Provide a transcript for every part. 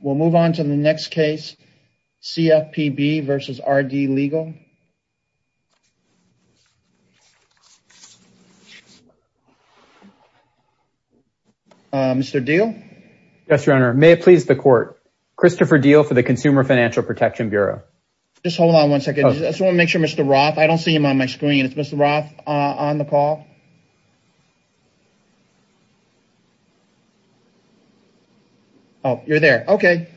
We'll move on to the next case, CFPB v. RD Legal. Mr. Diehl? Yes, Your Honor. May it please the Court, Christopher Diehl for the Consumer Financial Protection Bureau. Just hold on one second. I just want to make sure Mr. Roth, I don't see him on my screen. Is Mr. Roth on the call? Oh, you're there. Okay.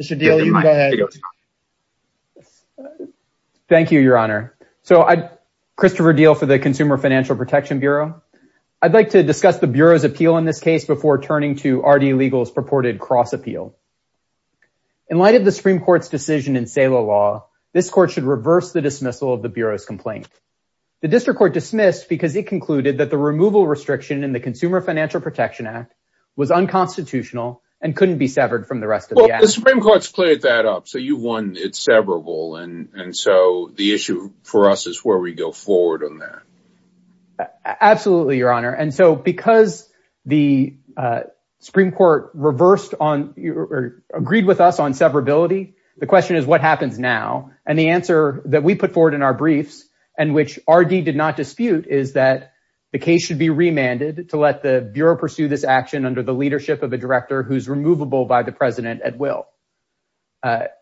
Mr. Diehl, you can go ahead. Thank you, Your Honor. So, Christopher Diehl for the Consumer Financial Protection Bureau. I'd like to discuss the Bureau's appeal in this case before turning to RD Legal's purported cross-appeal. In light of the Supreme Court's decision in SALA law, this Court should reverse the dismissal of the Bureau's complaint. The District Court dismissed because it concluded that the removal restriction in the Consumer Financial Protection Act was unconstitutional and couldn't be severed from the rest of the act. Well, the Supreme Court's cleared that up, so you've won it severable, and so the issue for us is where we go forward on that. Absolutely, Your Honor. And so because the Supreme Court reversed on or agreed with us on severability, the question is what happens now? And the answer that we put forward in our briefs, and which RD did not dispute, is that the case should be remanded to let the Bureau pursue this action under the leadership of a director who's removable by the President at will. As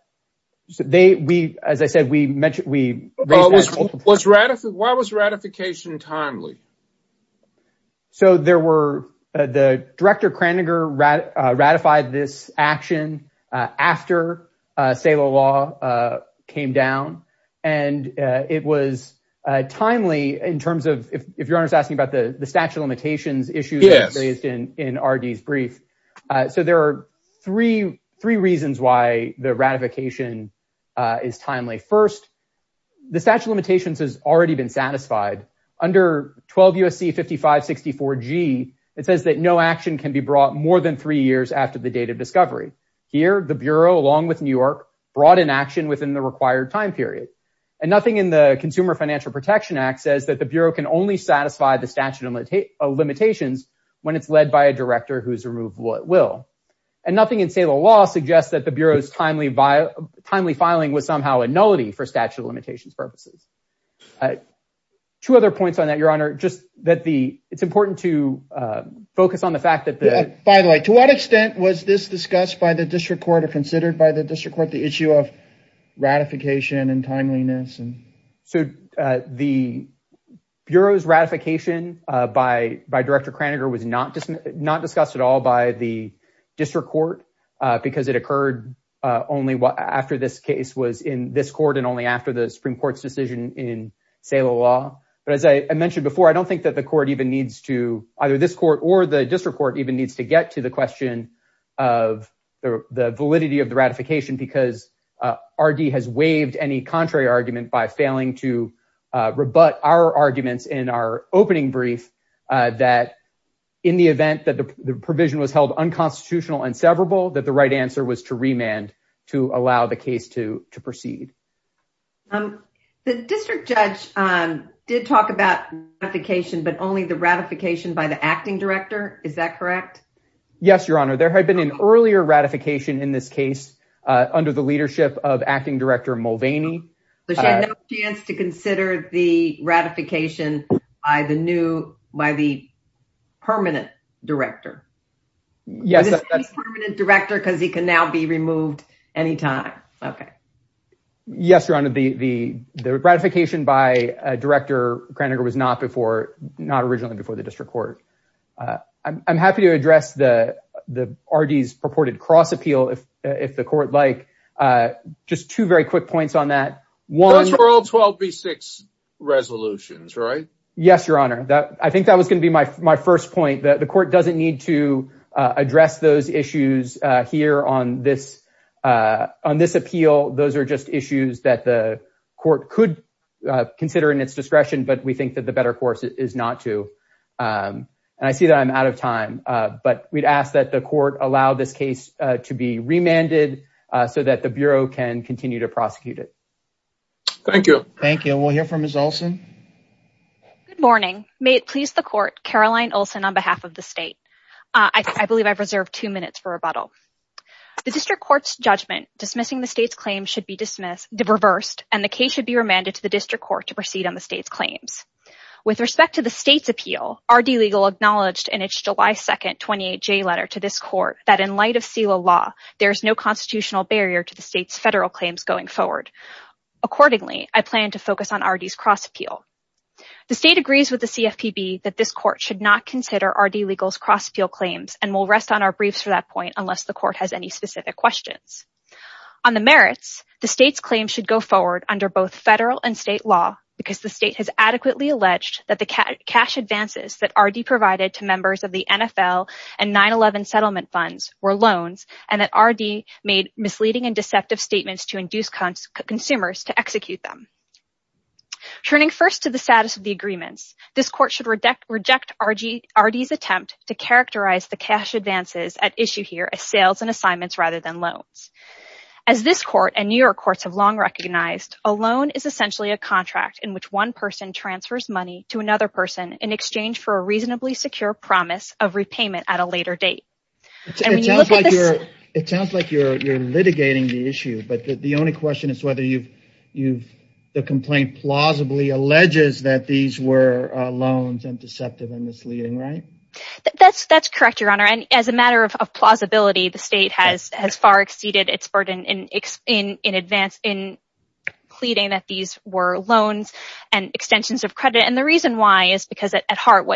I said, we raised that at multiple points. Why was ratification timely? So there were – the Director Kraninger ratified this action after SALA law came down, and it was timely in terms of – if Your Honor's asking about the statute of limitations issues that were raised in RD's brief. So there are three reasons why the ratification is timely. First, the statute of limitations has already been satisfied. Under 12 U.S.C. 5564G, it says that no action can be brought more than three years after the date of discovery. Here, the Bureau, along with New York, brought an action within the required time period. And nothing in the Consumer Financial Protection Act says that the Bureau can only satisfy the statute of limitations when it's led by a director who's removed at will. And nothing in SALA law suggests that the Bureau's timely filing was somehow a nullity for statute of limitations purposes. Two other points on that, Your Honor. Just that the – it's important to focus on the fact that the – By the way, to what extent was this discussed by the district court or considered by the district court, the issue of ratification and timeliness? So the Bureau's ratification by Director Kraninger was not discussed at all by the district court because it occurred only after this case was in this court and only after the Supreme Court's decision in SALA law. But as I mentioned before, I don't think that the court even needs to – either this court or the district court even needs to get to the question of the validity of the ratification because RD has waived any contrary argument by failing to rebut our arguments in our opening brief that in the event that the provision was held unconstitutional and severable, that the right answer was to remand to allow the case to proceed. The district judge did talk about ratification, but only the ratification by the acting director. Is that correct? Yes, Your Honor. There had been an earlier ratification in this case under the leadership of acting director Mulvaney. So she had no chance to consider the ratification by the new – by the permanent director? Yes, that's – Yes, Your Honor. The ratification by Director Kraninger was not before – not originally before the district court. I'm happy to address the RD's purported cross-appeal if the court like. Just two very quick points on that. That's for all 12B6 resolutions, right? Yes, Your Honor. I think that was going to be my first point. The court doesn't need to address those issues here on this – on this appeal. Those are just issues that the court could consider in its discretion, but we think that the better course is not to. And I see that I'm out of time, but we'd ask that the court allow this case to be remanded so that the Bureau can continue to prosecute it. Thank you. Thank you. We'll hear from Ms. Olson. Good morning. May it please the court, Caroline Olson, on behalf of the state. I believe I've reserved two minutes for rebuttal. The district court's judgment dismissing the state's claims should be dismissed – reversed, and the case should be remanded to the district court to proceed on the state's claims. With respect to the state's appeal, RD Legal acknowledged in its July 2nd 28J letter to this court that in light of CELA law, there is no constitutional barrier to the state's federal claims going forward. Accordingly, I plan to focus on RD's cross-appeal. The state agrees with the CFPB that this court should not consider RD Legal's cross-appeal claims, and we'll rest on our briefs for that point unless the court has any specific questions. On the merits, the state's claims should go forward under both federal and state law because the state has adequately alleged that the cash advances that RD provided to members of the NFL and 9-11 settlement funds were loans and that RD made misleading and deceptive statements to induce consumers to execute them. Turning first to the status of the agreements, this court should reject RD's attempt to characterize the cash advances at issue here as sales and assignments rather than loans. As this court and New York courts have long recognized, a loan is essentially a contract in which one person transfers money to another person in exchange for a reasonably secure promise of repayment at a later date. It sounds like you're litigating the issue, but the only question is whether the complaint plausibly alleges that these were loans and deceptive and misleading, right? That's correct, Your Honor. As a matter of plausibility, the state has far exceeded its burden in pleading that these were loans and extensions of credit. The reason why is because at heart,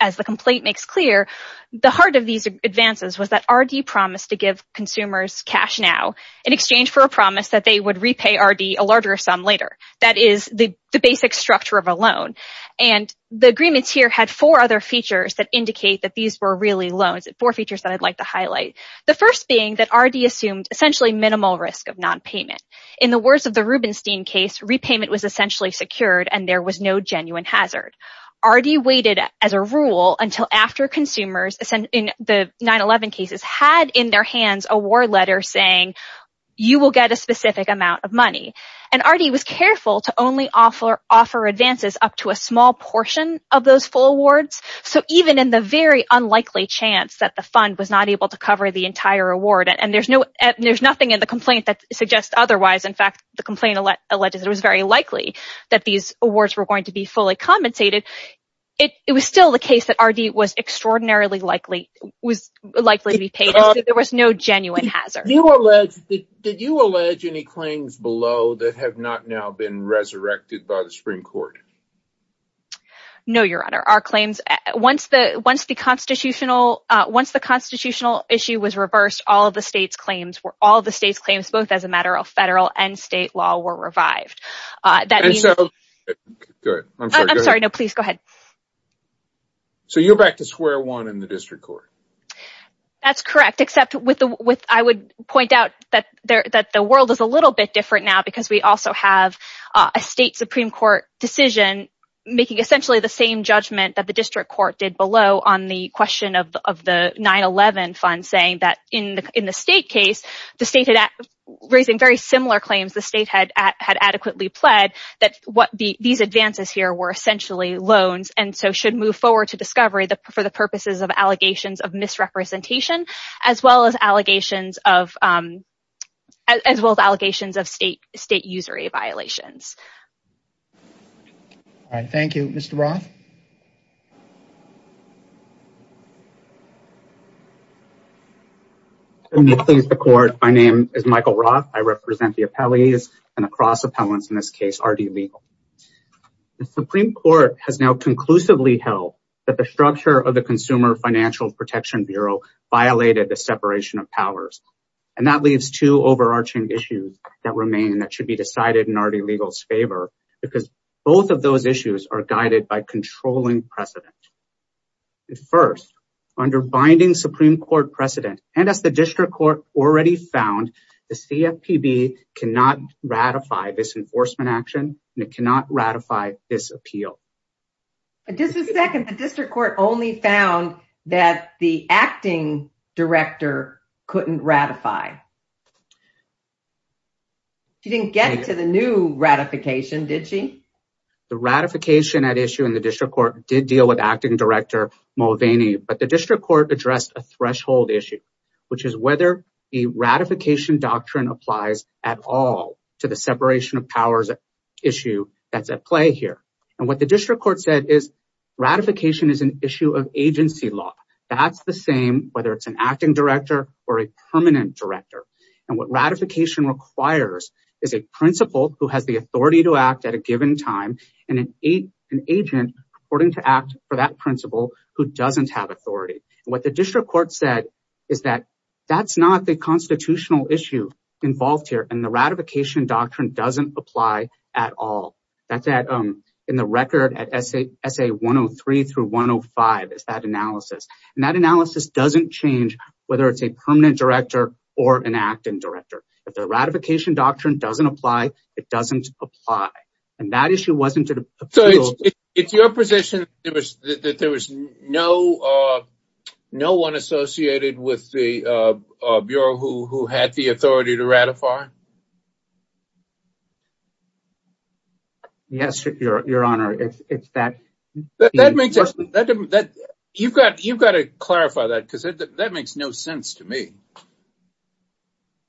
as the complaint makes clear, the heart of these advances was that RD promised to give consumers cash now in exchange for a promise that they would repay RD a larger sum later. That is the basic structure of a loan, and the agreements here had four other features that indicate that these were really loans, four features that I'd like to highlight. The first being that RD assumed essentially minimal risk of nonpayment. In the words of the Rubenstein case, repayment was essentially secured and there was no genuine hazard. RD waited as a rule until after consumers in the 9-11 cases had in their hands a war letter saying, you will get a specific amount of money. RD was careful to only offer advances up to a small portion of those full awards, so even in the very unlikely chance that the fund was not able to cover the entire award, and there's nothing in the complaint that suggests otherwise, in fact, the complaint alleges it was very likely that these awards were going to be fully compensated, it was still the case that RD was extraordinarily likely to be paid, so there was no genuine hazard. Did you allege any claims below that have not now been resurrected by the Supreme Court? No, Your Honor. Our claims, once the constitutional issue was reversed, all of the state's claims, both as a matter of federal and state law, were revived. I'm sorry, go ahead. So you're back to square one in the district court? That's correct, except I would point out that the world is a little bit different now because we also have a state Supreme Court decision making essentially the same judgment that the district court did below on the question of the 9-11 fund, saying that in the state case, raising very similar claims the state had adequately pled, that these advances here were essentially loans and so should move forward to discovery for the purposes of allegations of misrepresentation, as well as allegations of state usury violations. Thank you. Mr. Roth? Let me please the court. My name is Michael Roth. I represent the appellees and the cross appellants in this case, RD Legal. The Supreme Court has now conclusively held that the structure of the Consumer Financial Protection Bureau violated the separation of powers, and that leaves two overarching issues that remain that should be decided in RD Legal's favor, because both of those issues are guided by controlling precedent. First, under binding Supreme Court precedent, and as the district court already found, the CFPB cannot ratify this enforcement action and it cannot ratify this appeal. Just a second. The district court only found that the acting director couldn't ratify. She didn't get to the new ratification, did she? The ratification at issue in the district court did deal with acting director Mulvaney, but the district court addressed a threshold issue, which is whether the ratification doctrine applies at all to the separation of powers issue that's at play here. And what the district court said is ratification is an issue of agency law. That's the same whether it's an acting director or a permanent director. And what ratification requires is a principal who has the authority to act at a given time and an agent reporting to act for that principal who doesn't have authority. What the district court said is that that's not the constitutional issue involved here, and the ratification doctrine doesn't apply at all. That's in the record at SA 103 through 105 is that analysis. And that analysis doesn't change whether it's a permanent director or an acting director. If the ratification doctrine doesn't apply, it doesn't apply. And that issue wasn't in the appeal. It's your position that there was no no one associated with the bureau who had the authority to ratify. Yes, your honor, it's that. That makes that you've got you've got to clarify that because that makes no sense to me.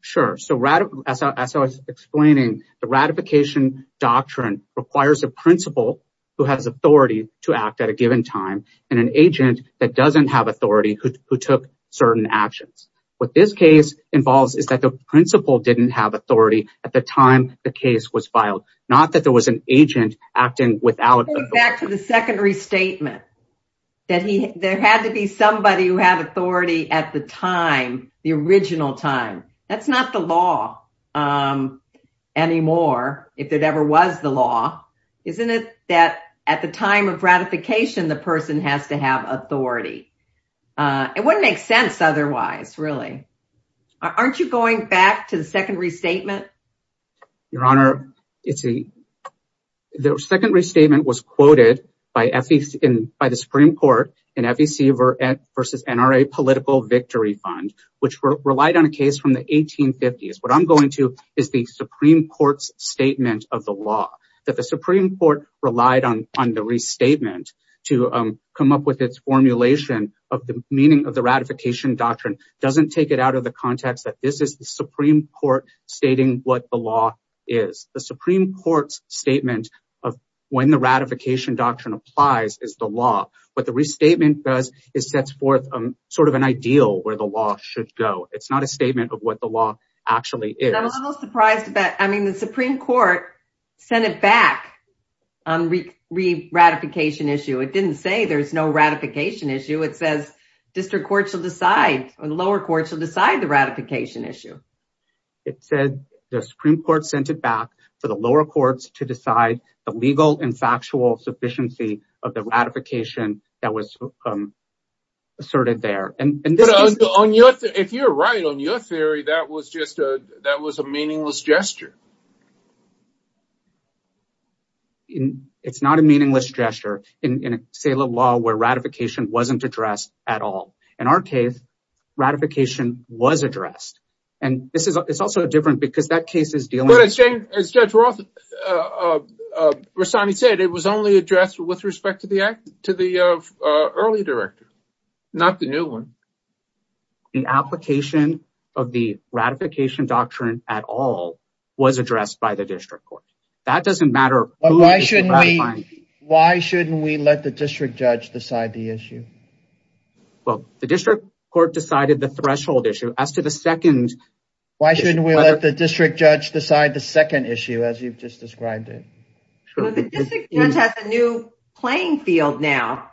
Sure, so as I was explaining, the ratification doctrine requires a principal who has authority to act at a given time and an agent that doesn't have authority who took certain actions. What this case involves is that the principal didn't have authority at the time the case was filed, not that there was an agent acting without. Back to the secondary statement that there had to be somebody who had authority at the time, the original time. That's not the law anymore. If it ever was the law, isn't it that at the time of ratification, the person has to have authority? It wouldn't make sense otherwise, really. Aren't you going back to the secondary statement? Your honor, it's the second restatement was quoted by the Supreme Court in FEC versus NRA Political Victory Fund, which relied on a case from the 1850s. What I'm going to is the Supreme Court's statement of the law that the Supreme Court relied on on the restatement to come up with its formulation of the meaning of the ratification doctrine doesn't take it out of the context that this is the Supreme Court stating what the law is. The Supreme Court's statement of when the ratification doctrine applies is the law. What the restatement does is sets forth sort of an ideal where the law should go. It's not a statement of what the law actually is. I'm surprised that the Supreme Court sent it back on re-ratification issue. It didn't say there's no ratification issue. It says district courts will decide or lower courts will decide the ratification issue. It said the Supreme Court sent it back for the lower courts to decide the legal and factual sufficiency of the ratification that was asserted there. And if you're right on your theory, that was just a that was a meaningless gesture. It's not a meaningless gesture in a state of law where ratification wasn't addressed at all. In our case, ratification was addressed. And this is it's also different because that case is dealing with. As Judge Rossani said, it was only addressed with respect to the act to the early director, not the new one. The application of the ratification doctrine at all was addressed by the district court. That doesn't matter. Why shouldn't we? Why shouldn't we let the district judge decide the issue? Well, the district court decided the threshold issue as to the second. Why shouldn't we let the district judge decide the second issue as you've just described it? The district judge has a new playing field now.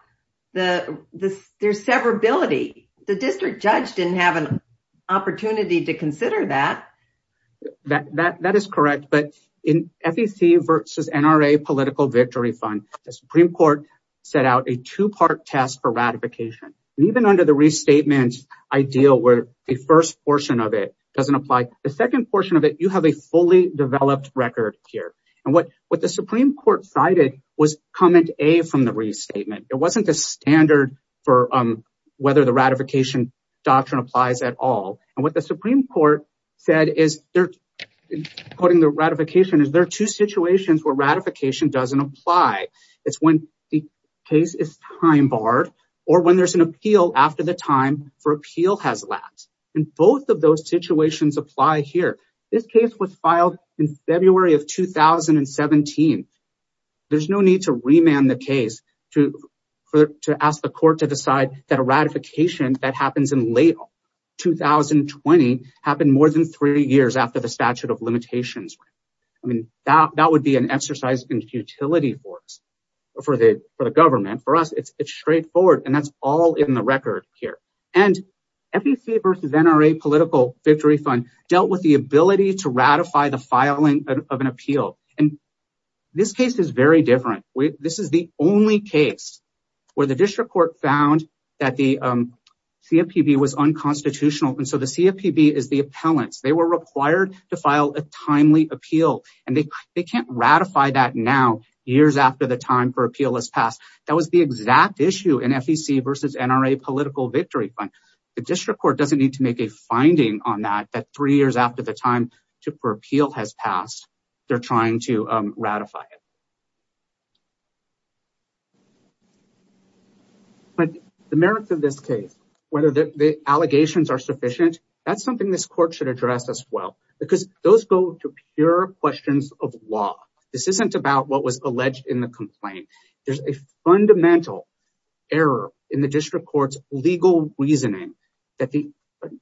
The the there's severability. The district judge didn't have an opportunity to consider that. That that that is correct. But in FEC versus NRA political victory fund, the Supreme Court set out a two part test for ratification. And even under the restatement ideal where the first portion of it doesn't apply. The second portion of it, you have a fully developed record here. And what what the Supreme Court cited was comment a from the restatement. It wasn't the standard for whether the ratification doctrine applies at all. And what the Supreme Court said is they're putting the ratification. Is there two situations where ratification doesn't apply? It's when the case is time barred or when there's an appeal after the time for appeal has lapsed. And both of those situations apply here. This case was filed in February of 2017. There's no need to remand the case to to ask the court to decide that a ratification that happens in late 2020 happened more than three years after the statute of limitations. I mean, that that would be an exercise in futility for us for the for the government. For us, it's straightforward. And that's all in the record here. And FEC versus NRA Political Victory Fund dealt with the ability to ratify the filing of an appeal. And this case is very different. This is the only case where the district court found that the CFPB was unconstitutional. And so the CFPB is the appellants. They were required to file a timely appeal. And they they can't ratify that now, years after the time for appeal has passed. That was the exact issue in FEC versus NRA Political Victory Fund. The district court doesn't need to make a finding on that, that three years after the time for appeal has passed, they're trying to ratify it. But the merits of this case, whether the allegations are sufficient, that's something this court should address as well. Because those go to pure questions of law. This isn't about what was alleged in the complaint. There's a fundamental error in the district court's legal reasoning that the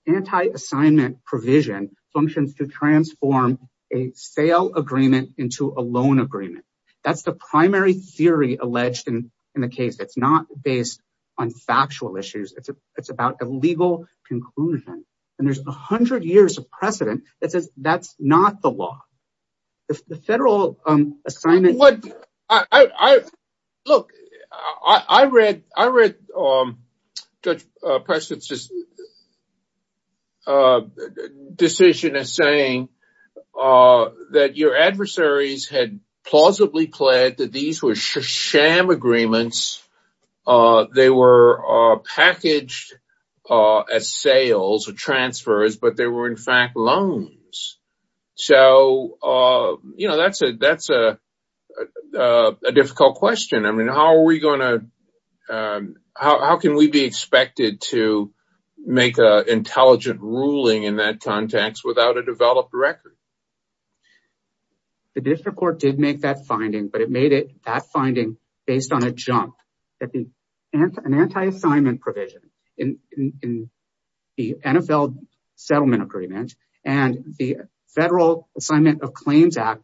anti-assignment provision functions to transform a sale agreement into a loan agreement. That's the primary theory alleged in the case. It's not based on factual issues. It's about a legal conclusion. And there's 100 years of precedent that says that's not the law. Look, I read Judge Preston's decision as saying that your adversaries had plausibly pled that these were sham agreements. They were packaged as sales or transfers, but they were in fact loans. So, you know, that's a difficult question. I mean, how can we be expected to make an intelligent ruling in that context without a developed record? The district court did make that finding, but it made it that finding based on a jump. An anti-assignment provision in the NFL settlement agreement and the Federal Assignment of Claims Act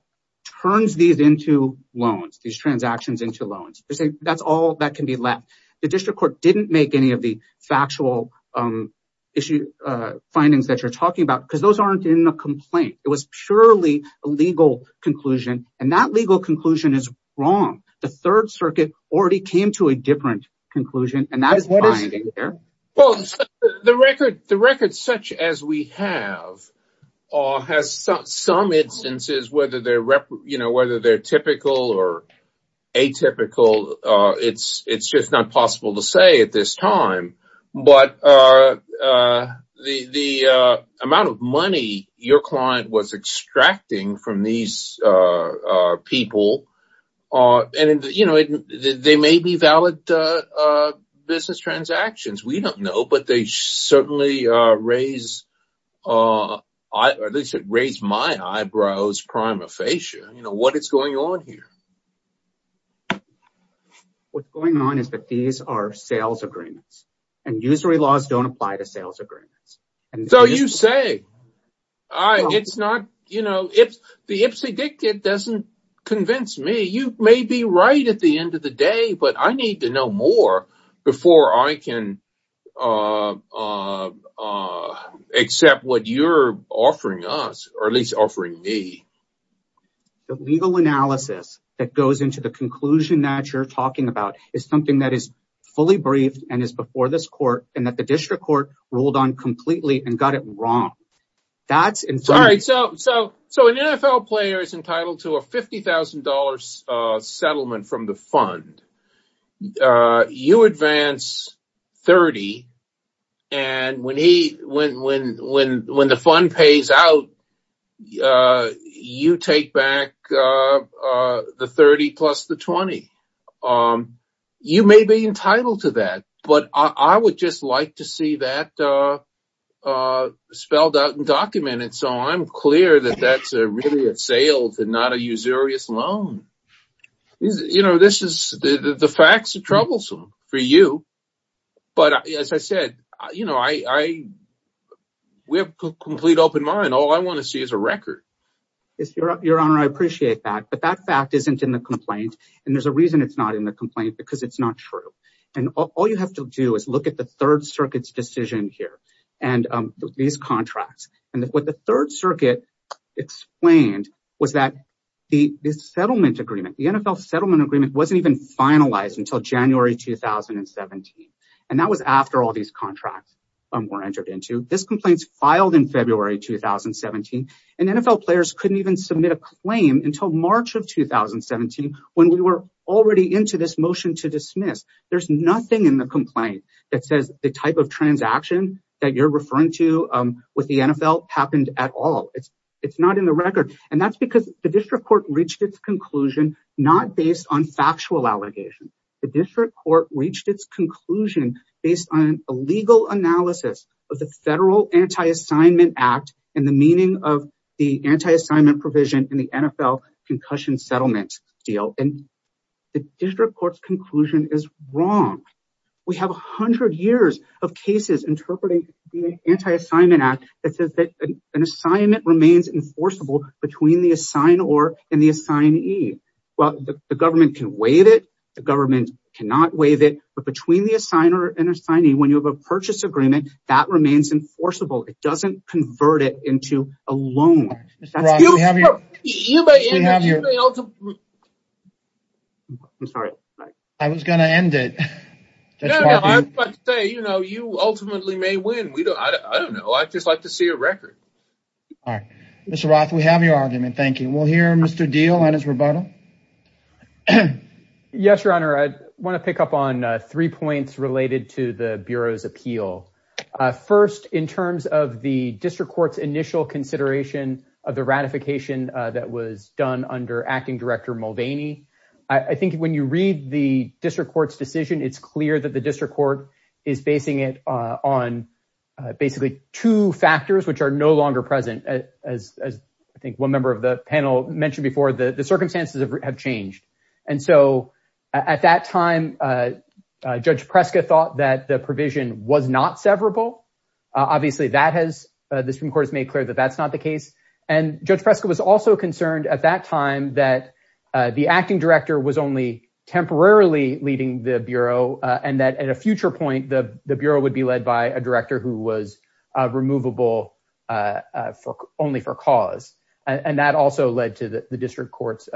turns these into loans, these transactions into loans. That's all that can be left. The district court didn't make any of the factual findings that you're talking about because those aren't in the complaint. It was purely a legal conclusion, and that legal conclusion is wrong. The Third Circuit already came to a different conclusion, and that is the finding there. The record such as we have has some instances, whether they're typical or atypical, it's just not possible to say at this time. But the amount of money your client was extracting from these people, they may be valid business transactions. We don't know, but they certainly raise my eyebrows prima facie. What is going on here? What's going on is that these are sales agreements, and usury laws don't apply to sales agreements. So you say, the Ipsy Dick kid doesn't convince me. You may be right at the end of the day, but I need to know more before I can accept what you're offering us, or at least offering me. The legal analysis that goes into the conclusion that you're talking about is something that is fully briefed and is before this court, and that the district court ruled on completely and got it wrong. So an NFL player is entitled to a $50,000 settlement from the fund. You advance $30,000, and when the fund pays out, you take back the $30,000 plus the $20,000. You may be entitled to that, but I would just like to see that spelled out and documented, so I'm clear that that's really a sales and not a usurious loan. You know, the facts are troublesome for you, but as I said, we have a complete open mind. All I want to see is a record. Your Honor, I appreciate that, but that fact isn't in the complaint, and there's a reason it's not in the complaint, because it's not true. And all you have to do is look at the Third Circuit's decision here and these contracts. And what the Third Circuit explained was that the settlement agreement, the NFL settlement agreement, wasn't even finalized until January 2017. And that was after all these contracts were entered into. This complaint's filed in February 2017, and NFL players couldn't even submit a claim until March of 2017 when we were already into this motion to dismiss. There's nothing in the complaint that says the type of transaction that you're referring to with the NFL happened at all. It's not in the record, and that's because the district court reached its conclusion not based on factual allegations. The district court reached its conclusion based on a legal analysis of the Federal Anti-Assignment Act and the meaning of the anti-assignment provision in the NFL concussion settlement deal. And the district court's conclusion is wrong. We have 100 years of cases interpreting the Anti-Assignment Act that says that an assignment remains enforceable between the assignor and the assignee. Well, the government can waive it. The government cannot waive it. But between the assigner and assignee, when you have a purchase agreement, that remains enforceable. It doesn't convert it into a loan. That's beautiful. Mr. Roth, we have your argument. I'm sorry. I was going to end it. No, no. I was about to say, you know, you ultimately may win. I don't know. All right. Mr. Roth, we have your argument. Thank you. We'll hear Mr. Diehl on his rebuttal. Yes, Your Honor. I want to pick up on three points related to the Bureau's appeal. First, in terms of the district court's initial consideration of the ratification that was done under Acting Director Mulvaney, I think when you read the district court's decision, it's clear that the district court is basing it on basically two factors, which are no longer present. As I think one member of the panel mentioned before, the circumstances have changed. And so at that time, Judge Preska thought that the provision was not severable. Obviously, the Supreme Court has made clear that that's not the case. And Judge Preska was also concerned at that time that the Acting Director was only temporarily leading the Bureau and that at a future point, the Bureau would be led by a director who was removable only for cause. And that also led to the district court's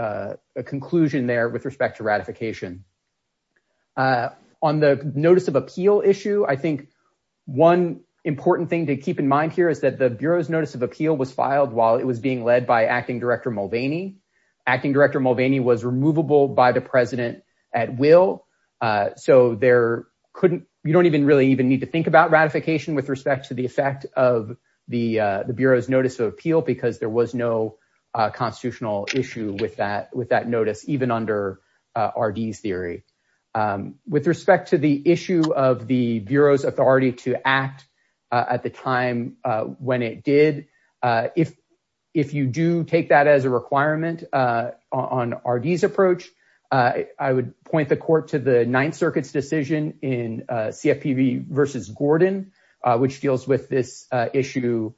conclusion there with respect to ratification. On the notice of appeal issue, I think one important thing to keep in mind here is that the Bureau's notice of appeal was filed while it was being led by Acting Director Mulvaney. Acting Director Mulvaney was removable by the President at will. So you don't even really even need to think about ratification with respect to the effect of the Bureau's notice of appeal because there was no constitutional issue with that notice, even under RD's theory. With respect to the issue of the Bureau's authority to act at the time when it did, if you do take that as a requirement on RD's approach, I would point the court to the Ninth Circuit's decision in CFPB v. Gordon, which deals with this issue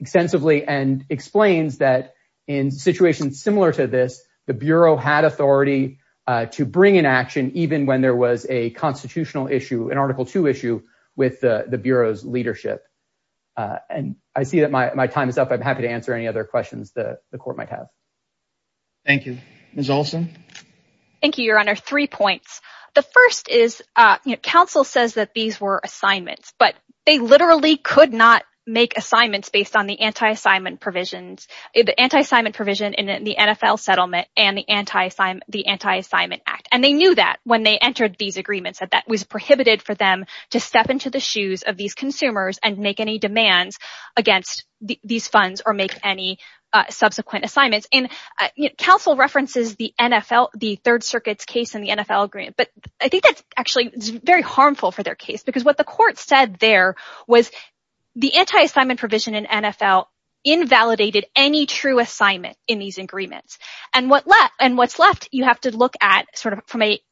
extensively and explains that in situations similar to this, the Bureau had authority to bring an action even when there was a constitutional issue, an Article II issue with the Bureau's leadership. And I see that my time is up. I'm happy to answer any other questions that the court might have. Thank you. Ms. Olson? Thank you, Your Honor. Three points. The first is, counsel says that these were assignments, but they literally could not make assignments based on the anti-assignment provision in the NFL settlement and the Anti-Assignment Act. And they knew that when they entered these agreements, that that was prohibited for them to step into the shoes of these consumers and make any demands against these funds or make any subsequent assignments. Counsel references the Third Circuit's case in the NFL agreement, but I think that's actually very harmful for their case. Because what the court said there was the anti-assignment provision in NFL invalidated any true assignment in these agreements. And what's left, you have to look at,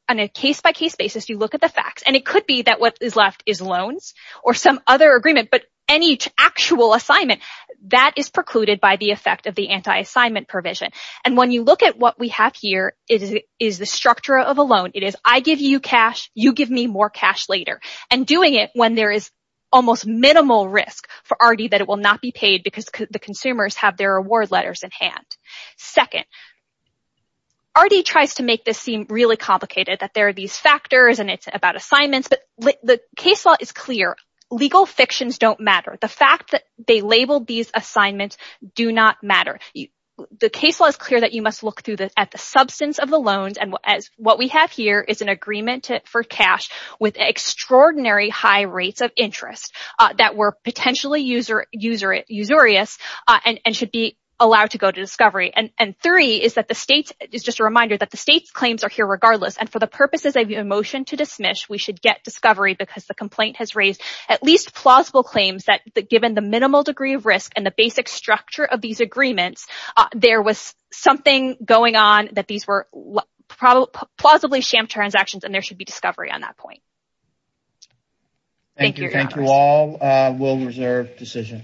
on a case-by-case basis, you look at the facts. And it could be that what is left is loans or some other agreement, but any actual assignment, that is precluded by the effect of the anti-assignment provision. And when you look at what we have here, it is the structure of a loan. It is, I give you cash, you give me more cash later. And doing it when there is almost minimal risk for ARTI that it will not be paid because the consumers have their award letters in hand. Second, ARTI tries to make this seem really complicated, that there are these factors and it's about assignments. But the case law is clear, legal fictions don't matter. The fact that they label these assignments do not matter. The case law is clear that you must look at the substance of the loans. And what we have here is an agreement for cash with extraordinary high rates of interest that were potentially usurious and should be allowed to go to discovery. And three is just a reminder that the state's claims are here regardless. And for the purposes of your motion to dismiss, we should get discovery because the complaint has raised at least plausible claims that, given the minimal degree of risk and the basic structure of these agreements, there was something going on that these were plausibly sham transactions, and there should be discovery on that point. Thank you. Thank you all. We'll reserve decision.